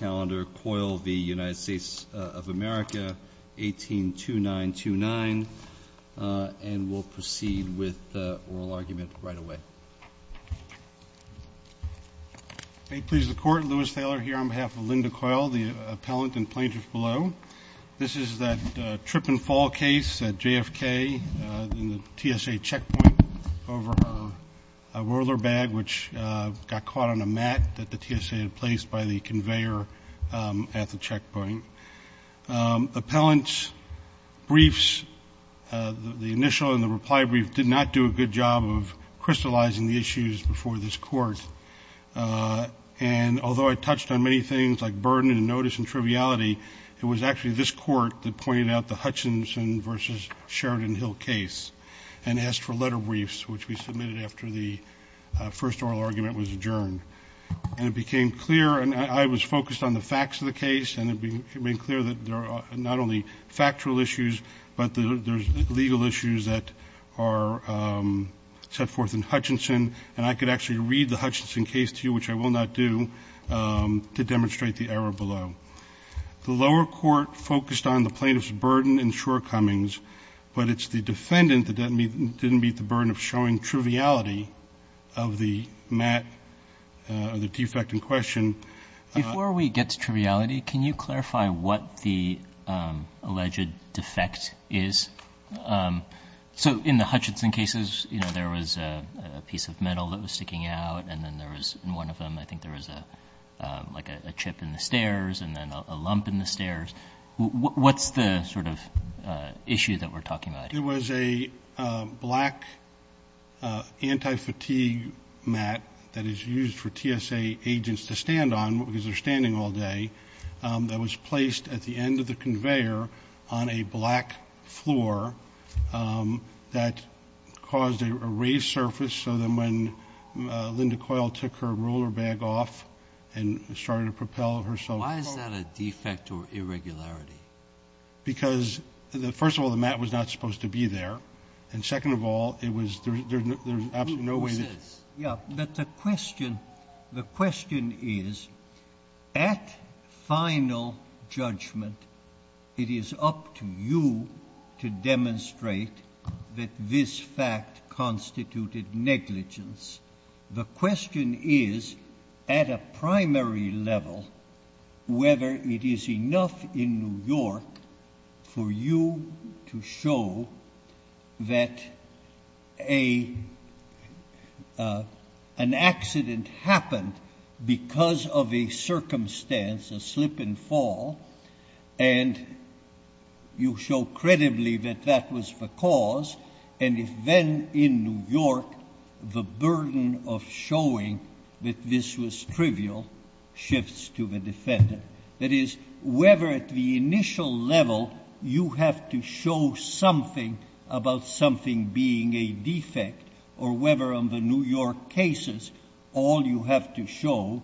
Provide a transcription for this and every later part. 182929, and we'll proceed with the oral argument right away. May it please the Court, Louis Thaler here on behalf of Linda Coyle, the appellant and plaintiff below. This is that trip-and-fall case at JFK in the TSA checkpoint over a whirler bag which got caught on a mat that the TSA had placed by the conveyor. at the checkpoint. Appellant's briefs, the initial and the reply brief, did not do a good job of crystallizing the issues before this Court. And although I touched on many things like burden and notice and triviality, it was actually this Court that pointed out the Hutchinson v. Sheridan Hill case and asked for letter briefs, which we submitted after the first oral argument was adjourned. And it became clear, and I was focused on the facts of the case, and it became clear that there are not only factual issues, but there's legal issues that are set forth in Hutchinson, and I could actually read the Hutchinson case to you, which I will not do, to demonstrate the error below. The lower court focused on the plaintiff's burden and shortcomings, but it's the defendant that didn't meet the burden of showing triviality of the mat or the defect in question. Before we get to triviality, can you clarify what the alleged defect is? So in the Hutchinson cases, you know, there was a piece of metal that was sticking out, and then there was in one of them I think there was like a chip in the stairs and then a lump in the stairs. What's the sort of issue that we're talking about? It was a black anti-fatigue mat that is used for TSA agents to stand on because they're standing all day that was placed at the end of the conveyor on a black floor that caused a raised surface, so then when Linda Coyle took her roller bag off and started to propel herself up. Why is that a defect or irregularity? Because, first of all, the mat was not supposed to be there, and second of all, there was absolutely no way that... Yeah, but the question is, at final judgment, it is up to you to demonstrate that this fact constituted negligence. The question is, at a primary level, whether it is enough in New York for you to show that an accident happened because of a circumstance, a slip and fall, and you show credibly that that was the cause, and if then in New York the burden of showing that this was trivial shifts to the defendant. That is, whether at the initial level you have to show something about something being a defect or whether on the New York cases all you have to show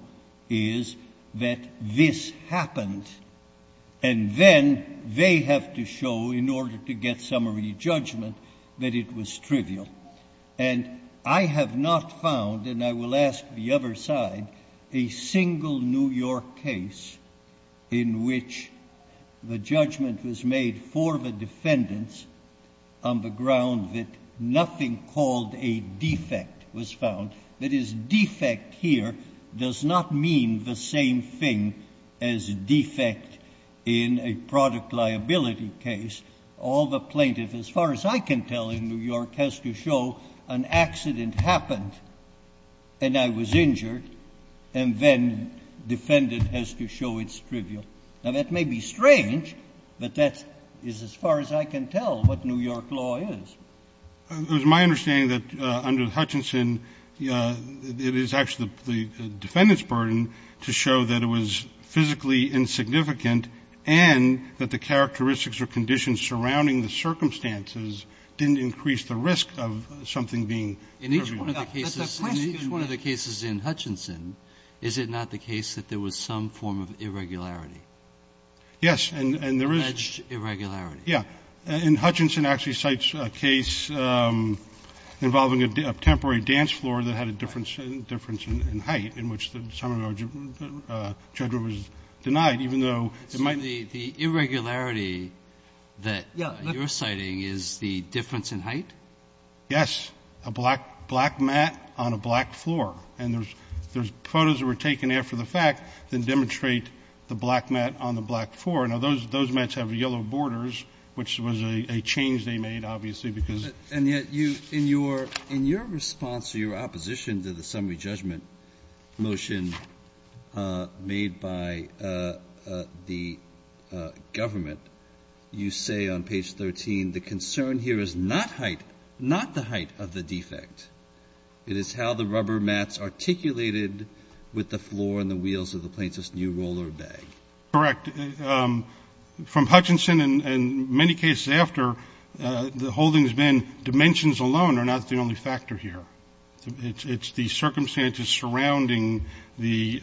is that this happened, and then they have to show, in order to get summary judgment, that it was trivial. And I have not found, and I will ask the other side, a single New York case in which the judgment was made for the defendants on the ground that nothing called a defect was found. That is, defect here does not mean the same thing as defect in a product liability case. All the plaintiff, as far as I can tell in New York, has to show an accident happened and I was injured, and then defendant has to show it's trivial. Now, that may be strange, but that is, as far as I can tell, what New York law is. It was my understanding that under Hutchinson it is actually the defendant's burden to show that it was physically insignificant and that the characteristics or conditions surrounding the circumstances didn't increase the risk of something being trivial. Breyer. In each one of the cases in Hutchinson, is it not the case that there was some form of irregularity? Yes, and there is. Alleged irregularity. Yes. And Hutchinson actually cites a case involving a temporary dance floor that had a difference in height in which the summary judgment was denied, even though it might be the irregularity that you're citing is the difference in height? Yes. A black mat on a black floor. And there's photos that were taken after the fact that demonstrate the black mat on the black floor. Now, those mats have yellow borders, which was a change they made, obviously, because of the height. And yet you, in your response to your opposition to the summary judgment motion made by the government, you say on page 13, the concern here is not height, not the height of the defect. It is how the rubber mats articulated with the floor and the wheels of the plaintiff's new roller bag. Correct. From Hutchinson and many cases after, the whole thing has been dimensions alone are not the only factor here. It's the circumstances surrounding the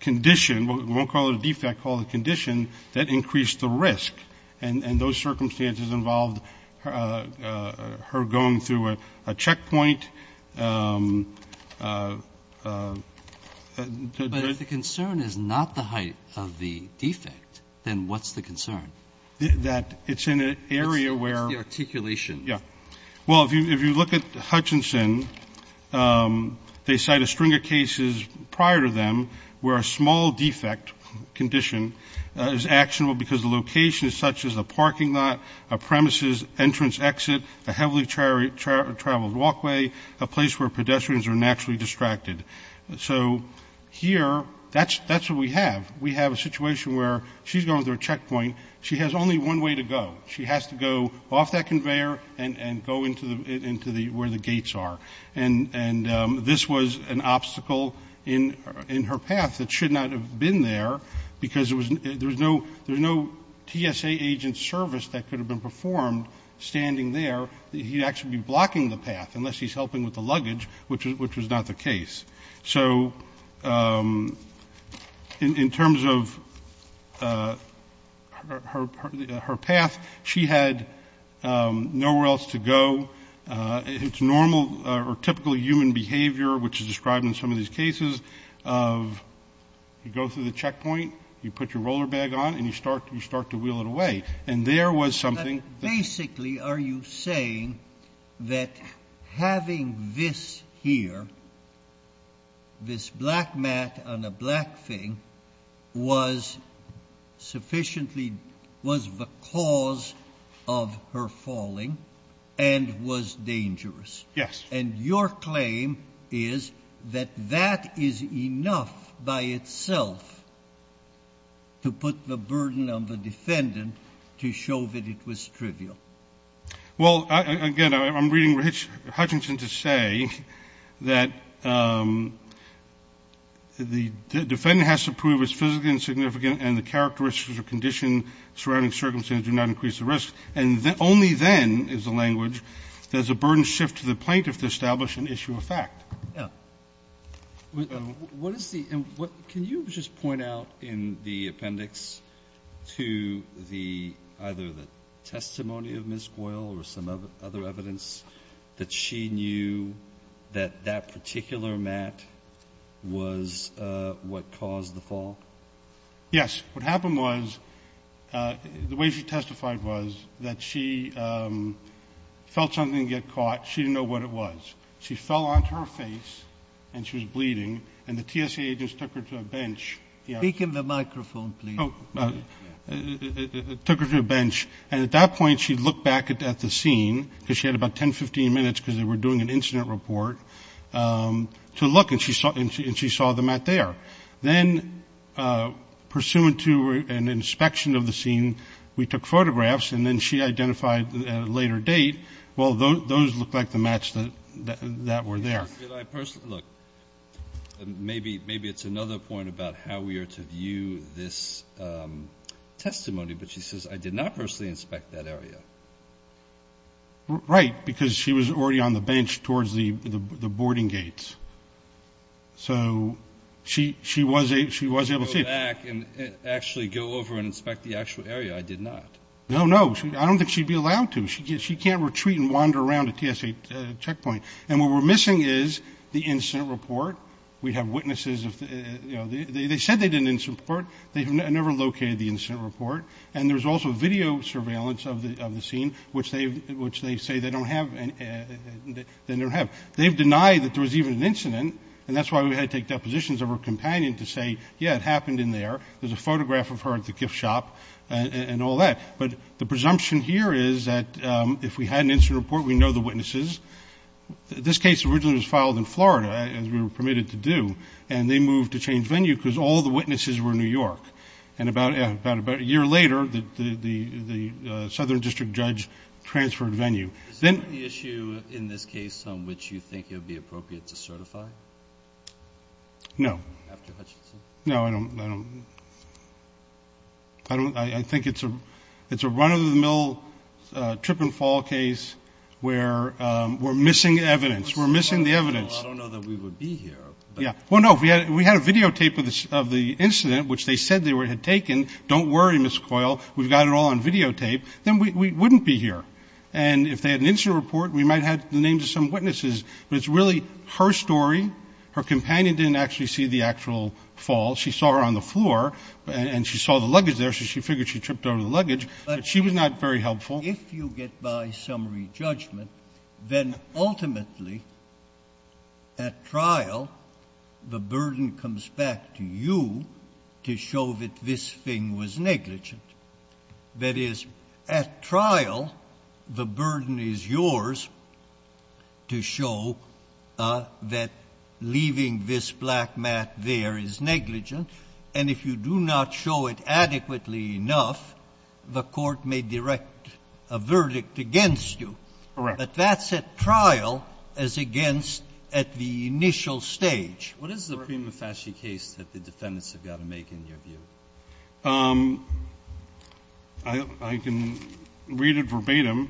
condition. We won't call it a defect. Call it a condition that increased the risk. And those circumstances involved her going through a checkpoint. But if the concern is not the height of the defect, then what's the concern? That it's in an area where the articulation. Yeah. Well, if you look at Hutchinson, they cite a string of cases prior to them where a small defect condition is actionable because the location is such as a parking lot, a premises entrance exit, a heavily traveled walkway, a place where pedestrians are naturally distracted. So here, that's what we have. We have a situation where she's going through a checkpoint. She has only one way to go. She has to go off that conveyor and go into where the gates are. And this was an obstacle in her path that should not have been there because there's no TSA agent service that could have been performed standing there. He'd actually be blocking the path unless he's helping with the luggage, which was not the case. So in terms of her path, she had nowhere else to go. It's normal or typically human behavior, which is described in some of these cases, of you go through the checkpoint, you put your roller bag on, and you start to wheel it away. And there was something that you... This black mat on a black thing was sufficiently, was the cause of her falling and was dangerous. Yes. And your claim is that that is enough by itself to put the burden on the defendant to show that it was trivial. Well, again, I'm reading Hutchinson to say that the defendant has to prove it's physically insignificant and the characteristics or condition surrounding circumstances do not increase the risk. And only then is the language, does the burden shift to the plaintiff to establish an issue of fact. Yeah. What is the... Can you just point out in the appendix to either the testimony of Ms. Goyle or some other evidence that she knew that that particular mat was what caused the fall? Yes. What happened was, the way she testified was that she felt something get caught. She didn't know what it was. She fell onto her face and she was bleeding. And the TSA agents took her to a bench. Speak in the microphone, please. Took her to a bench. And at that point, she looked back at the scene, because she had about 10, 15 minutes because they were doing an incident report, to look. And she saw the mat there. Then, pursuant to an inspection of the scene, we took photographs. And then she identified at a later date, well, those look like the mats that were there. Look. Maybe it's another point about how we are to view this testimony. But she says, I did not personally inspect that area. Right. Because she was already on the bench towards the boarding gates. So she was able to see it. Go back and actually go over and inspect the actual area. I did not. No, no. I don't think she'd be allowed to. She can't retreat and wander around a TSA checkpoint. And what we're missing is the incident report. We have witnesses. They said they did an incident report. They never located the incident report. And there's also video surveillance of the scene, which they say they don't have. They've denied that there was even an incident. And that's why we had to take depositions of her companion to say, yeah, it happened in there. There's a photograph of her at the gift shop and all that. But the presumption here is that if we had an incident report, we know the witnesses. This case originally was filed in Florida, as we were permitted to do. And they moved to change venue because all the witnesses were New York. And about a year later, the Southern District Judge transferred venue. Is that the issue in this case on which you think it would be appropriate to certify? No. After Hutchinson? No, I don't. I think it's a run-of-the-mill trip-and-fall case where we're missing evidence. We're missing the evidence. I don't know that we would be here. Well, no, we had a videotape of the incident, which they said they had taken. Don't worry, Ms. Coyle, we've got it all on videotape. Then we wouldn't be here. And if they had an incident report, we might have the names of some witnesses. But it's really her story. Her companion didn't actually see the actual fall. She saw her on the floor. And she saw the luggage there, so she figured she tripped over the luggage. But she was not very helpful. If you get by summary judgment, then ultimately at trial, the burden comes back to you to show that this thing was negligent. That is, at trial, the burden is yours to show that leaving this black mat there is negligent, and if you do not show it adequately enough, the court may direct a verdict against you. Correct. But that's at trial as against at the initial stage. What is the prima facie case that the defendants have got to make in your view? I can read it verbatim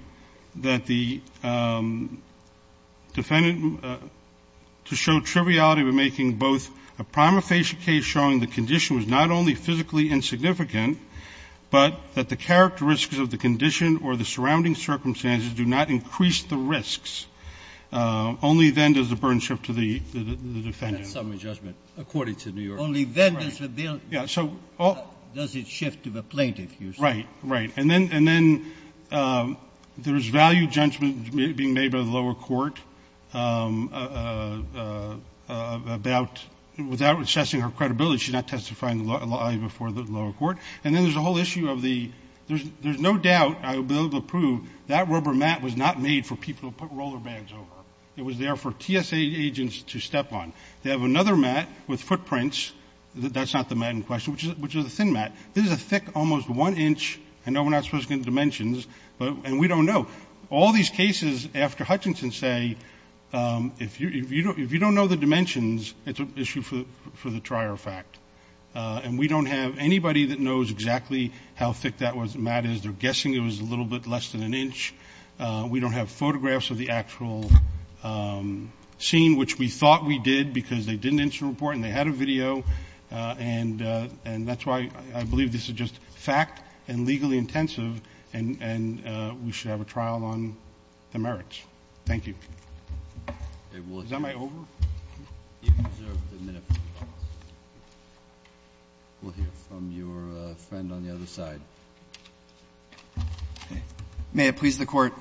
that the defendant, to show triviality, we're making both a prima facie case showing the condition was not only physically insignificant, but that the characteristics of the condition or the surrounding circumstances do not increase the risks. Only then does the burden shift to the defendant. That's summary judgment, according to New York. Only then does it shift to the plaintiff, you say. Right, right. And then there's value judgment being made by the lower court about, without assessing her credibility, she's not testifying before the lower court. And then there's a whole issue of the, there's no doubt, I will be able to prove, that rubber mat was not made for people to put roller bags over. It was there for TSA agents to step on. They have another mat with footprints. That's not the mat in question, which is a thin mat. This is a thick, almost one-inch, I know we're not supposed to get dimensions, and we don't know. All these cases after Hutchinson say, if you don't know the dimensions, it's an issue for the trier of fact. And we don't have anybody that knows exactly how thick that mat is. They're guessing it was a little bit less than an inch. We don't have photographs of the actual scene, which we thought we did, because they didn't issue a report and they had a video. And that's why I believe this is just fact and legally intensive, and we should have a trial on the merits. Thank you. Is that my over? You can reserve the minute. We'll hear from your friend on the other side. May it please the Court.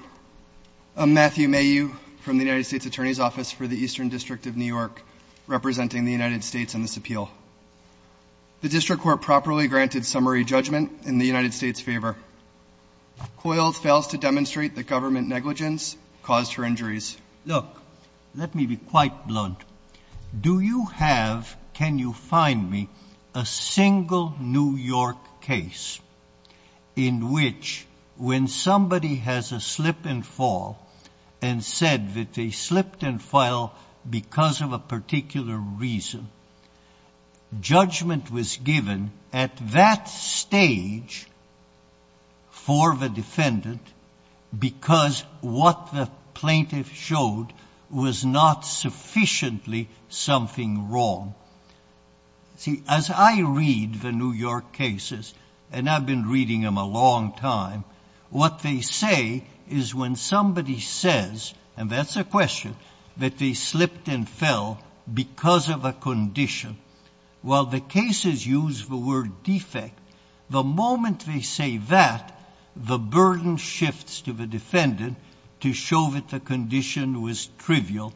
I'm Matthew Mayhew from the United States Attorney's Office for the Eastern District of New York, representing the United States in this appeal. The district court properly granted summary judgment in the United States' favor. Coyle fails to demonstrate that government negligence caused her injuries. Look, let me be quite blunt. Do you have, can you find me, a single New York case in which when somebody has a slip and fall and said that they slipped and fell because of a particular reason, judgment was given at that stage for the defendant because what the plaintiff showed was not sufficiently something wrong? See, as I read the New York cases, and I've been reading them a long time, what they say is when somebody says, and that's a question, that they slipped and fell because of a condition. While the cases use the word defect, the moment they say that, the burden shifts to the defendant to show that the condition was trivial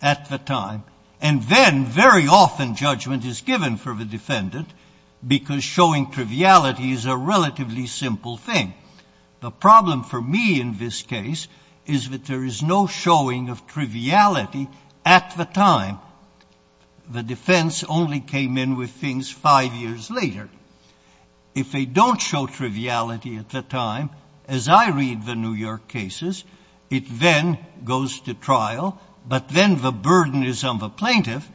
at the time. And then very often judgment is given for the defendant because showing triviality is a relatively simple thing. The problem for me in this case is that there is no showing of triviality at the time. The defense only came in with things five years later. If they don't show triviality at the time, as I read the New York cases, it then goes to trial, but then the burden is on the plaintiff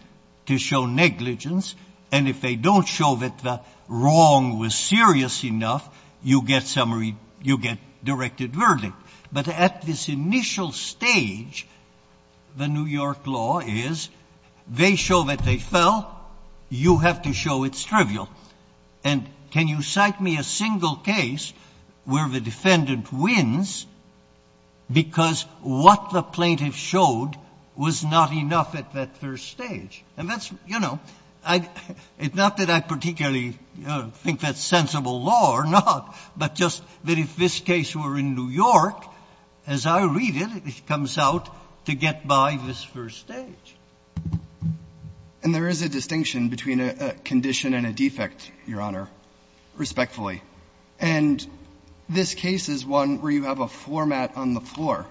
to show negligence, and if they don't show that the wrong was serious enough, you get summary, you get directed verdict. But at this initial stage, the New York law is they show that they fell. You have to show it's trivial. And can you cite me a single case where the defendant wins because what the plaintiff showed was not enough at that first stage? And that's, you know, it's not that I particularly think that's sensible law or not, but just that if this case were in New York, as I read it, it comes out to get by this first stage. And there is a distinction between a condition and a defect, Your Honor, respectfully. And this case is one where you have a floor mat on the floor.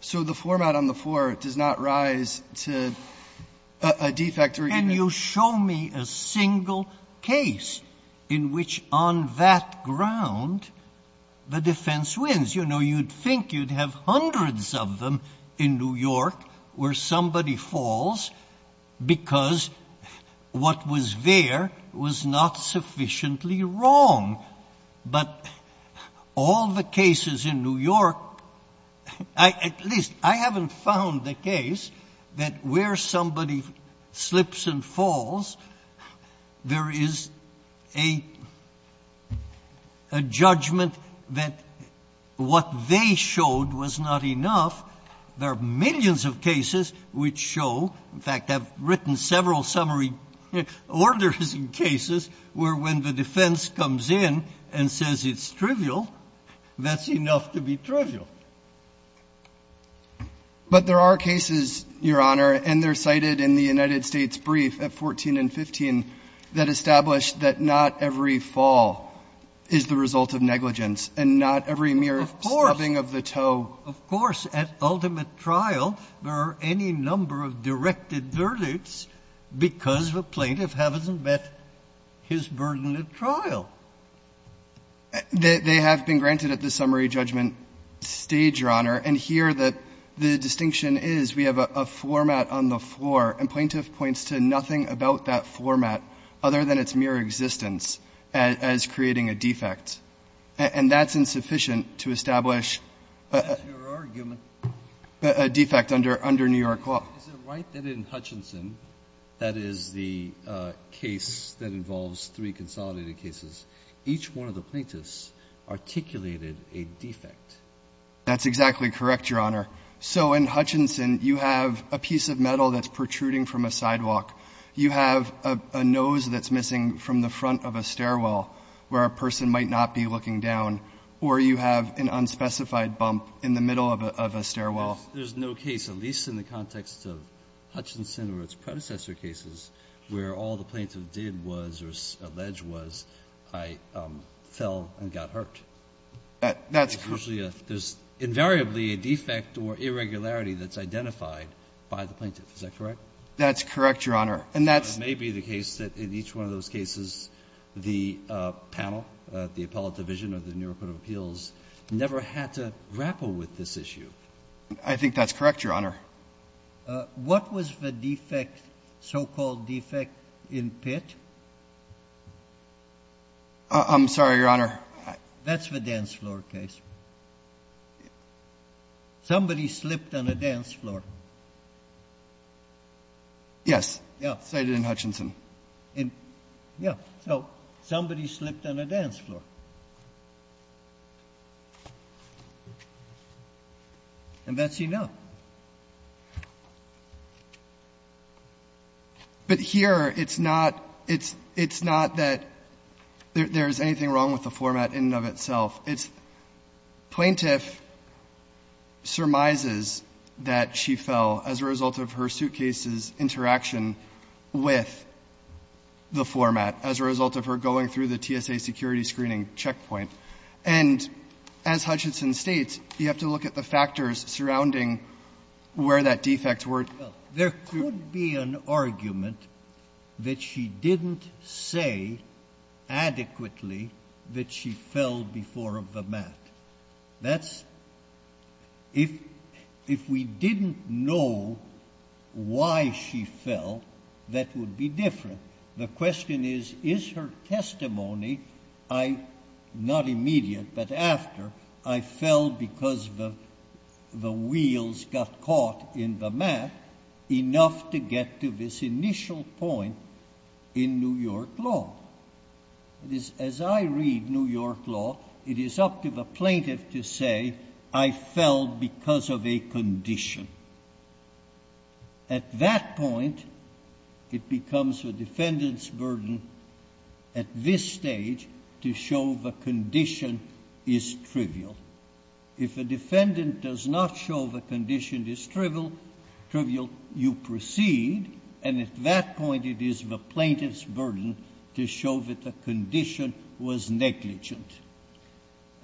So the floor mat on the floor does not rise to a defect or a defect. And you show me a single case in which on that ground the defense wins. As you know, you'd think you'd have hundreds of them in New York where somebody falls because what was there was not sufficiently wrong. But all the cases in New York, at least I haven't found the case that where somebody slips and falls, there is a judgment that when somebody slips and falls, what they showed was not enough. There are millions of cases which show, in fact, have written several summary orders in cases where when the defense comes in and says it's trivial, that's enough to be trivial. But there are cases, Your Honor, and they're cited in the United States brief at 14 and 15, that establish that not every fall is the result of negligence and not every mere stubbing of the toe. Of course. At ultimate trial, there are any number of directed verdicts because the plaintiff hasn't met his burden at trial. They have been granted at the summary judgment stage, Your Honor. And here the distinction is we have a floor mat on the floor, and plaintiff points to nothing about that floor mat other than its mere existence as creating a defect. And that's insufficient to establish a defect under New York law. Is it right that in Hutchinson, that is the case that involves three consolidated cases, each one of the plaintiffs articulated a defect? That's exactly correct, Your Honor. So in Hutchinson, you have a piece of metal that's protruding from a sidewalk. You have a nose that's missing from the front of a stairwell where a person might not be looking down, or you have an unspecified bump in the middle of a stairwell. There's no case, at least in the context of Hutchinson or its predecessor cases, where all the plaintiff did was, or alleged was, I fell and got hurt. That's correct. There's invariably a defect or irregularity that's identified by the plaintiff. Is that correct? That's correct, Your Honor. And that's the case. The Metropolitan Division of the New York Court of Appeals never had to grapple with this issue. I think that's correct, Your Honor. What was the defect, so-called defect, in Pitt? I'm sorry, Your Honor. That's the dance floor case. Somebody slipped on a dance floor. Yes. Cited in Hutchinson. Yes. So somebody slipped on a dance floor. And that's enough. But here it's not that there's anything wrong with the format in and of itself. It's plaintiff surmises that she fell as a result of her suitcase's interaction with the format, as a result of her going through the TSA security screening checkpoint. And as Hutchinson states, you have to look at the factors surrounding where that defect were. Well, there could be an argument that she didn't say adequately that she fell before the mat. If we didn't know why she fell, that would be different. The question is, is her testimony, not immediate, but after, I fell because the wheels got caught in the mat enough to get to this initial point in New York law? As I read New York law, it is up to the plaintiff to say, I fell because of a condition. At that point, it becomes the defendant's burden at this stage to show the condition is trivial. If a defendant does not show the condition is trivial, you proceed. And at that point, it is the plaintiff's burden to show that the condition was negligent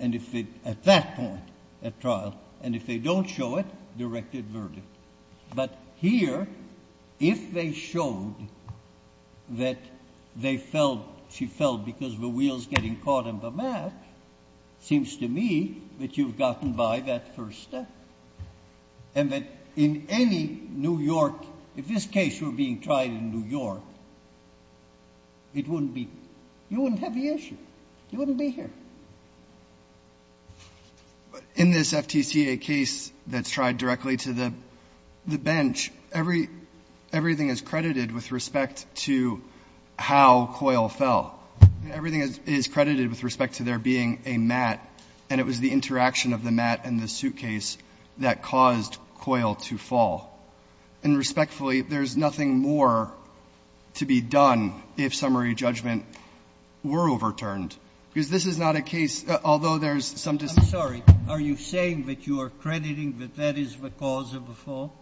at that point, at trial. And if they don't show it, directed verdict. But here, if they showed that she fell because the wheels getting caught in the mat, seems to me that you've gotten by that first step. And that in any New York, if this case were being tried in New York, it wouldn't be you wouldn't have the issue, you wouldn't be here. In this FTCA case that's tried directly to the bench, everything is credited with respect to how Coyle fell. Everything is credited with respect to there being a mat, and it was the interaction of the mat and the suitcase that caused Coyle to fall. And respectfully, there's nothing more to be done if summary judgment were overturned. Because this is not a case, although there's some discussion of the case that Coyle fell. Sotomayor, are you saying that you are crediting that that is the cause of the fall?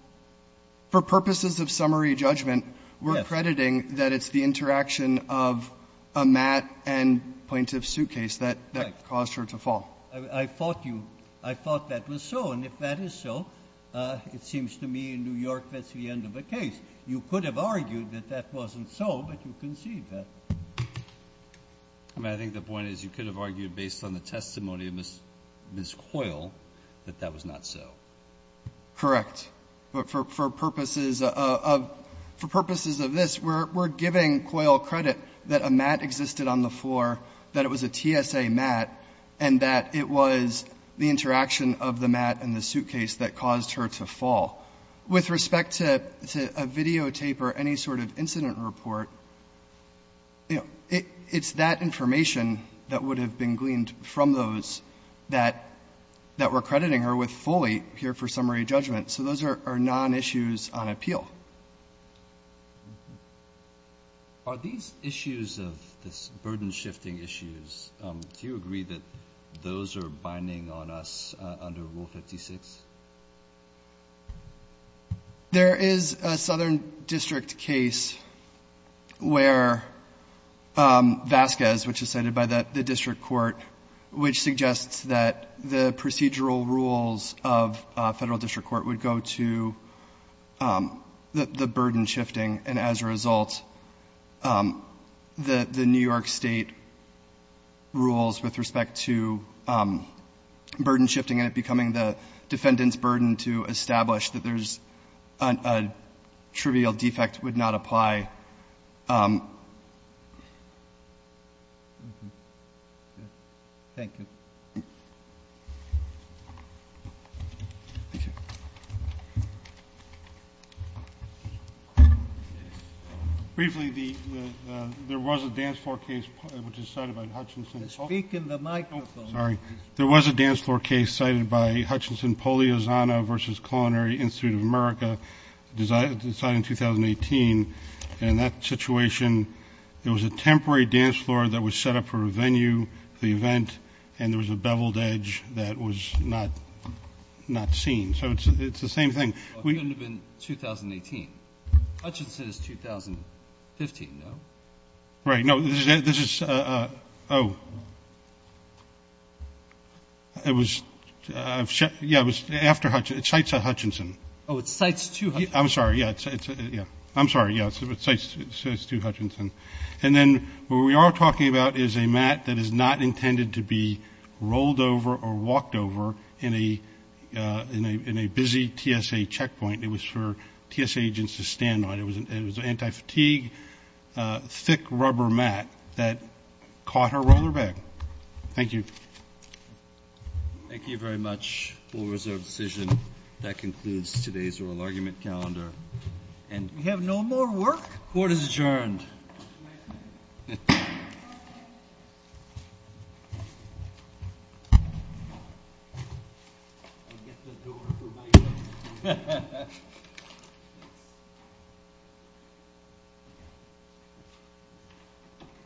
For purposes of summary judgment, we're crediting that it's the interaction of a mat and plaintiff's suitcase that caused her to fall. I thought you — I thought that was so. And if that is so, it seems to me in New York that's the end of the case. You could have argued that that wasn't so, but you conceded that. I mean, I think the point is you could have argued based on the testimony of Ms. Coyle that that was not so. Correct. But for purposes of — for purposes of this, we're giving Coyle credit that a mat existed on the floor, that it was a TSA mat, and that it was the interaction of the mat and the suitcase that caused her to fall. With respect to a videotape or any sort of incident report, you know, it's that information that would have been gleaned from those that — that we're crediting her with fully here for summary judgment. So those are non-issues on appeal. Are these issues of this burden-shifting issues, do you agree that those are binding on us under Rule 56? There is a Southern District case where Vasquez, which is cited by the district court, which suggests that the procedural rules of Federal district court would go to the burden-shifting, and as a result, the New York State rules with respect to burden-shifting and it becoming the defendant's burden to establish that there's a trivial defect would not apply. Thank you. Briefly, the — there was a dance floor case which is cited by Hutchinson — Speak in the microphone. Oh, sorry. There was a dance floor case cited by Hutchinson Poliozana v. Culinary Institute of America decided in 2018, and in that situation, there was a temporary dance floor that was set up for a venue, the event, and there was a beveled edge that was not seen. So it's the same thing. It couldn't have been 2018. Hutchinson is 2015, no? Right. No, this is — oh. It was — yeah, it was after — it cites a Hutchinson. Oh, it cites two Hutchinsons. I'm sorry. Yeah, it's — yeah. I'm sorry. Yeah, it cites two Hutchinson. And then what we are talking about is a mat that is not intended to be rolled over or walked over in a busy TSA checkpoint. It was for TSA agents to stand on. It was an anti-fatigue, thick rubber mat that caught her roll her back. Thank you. Thank you very much, Board of Reserves decision. That concludes today's oral argument calendar. And — We have no more work? The court is adjourned.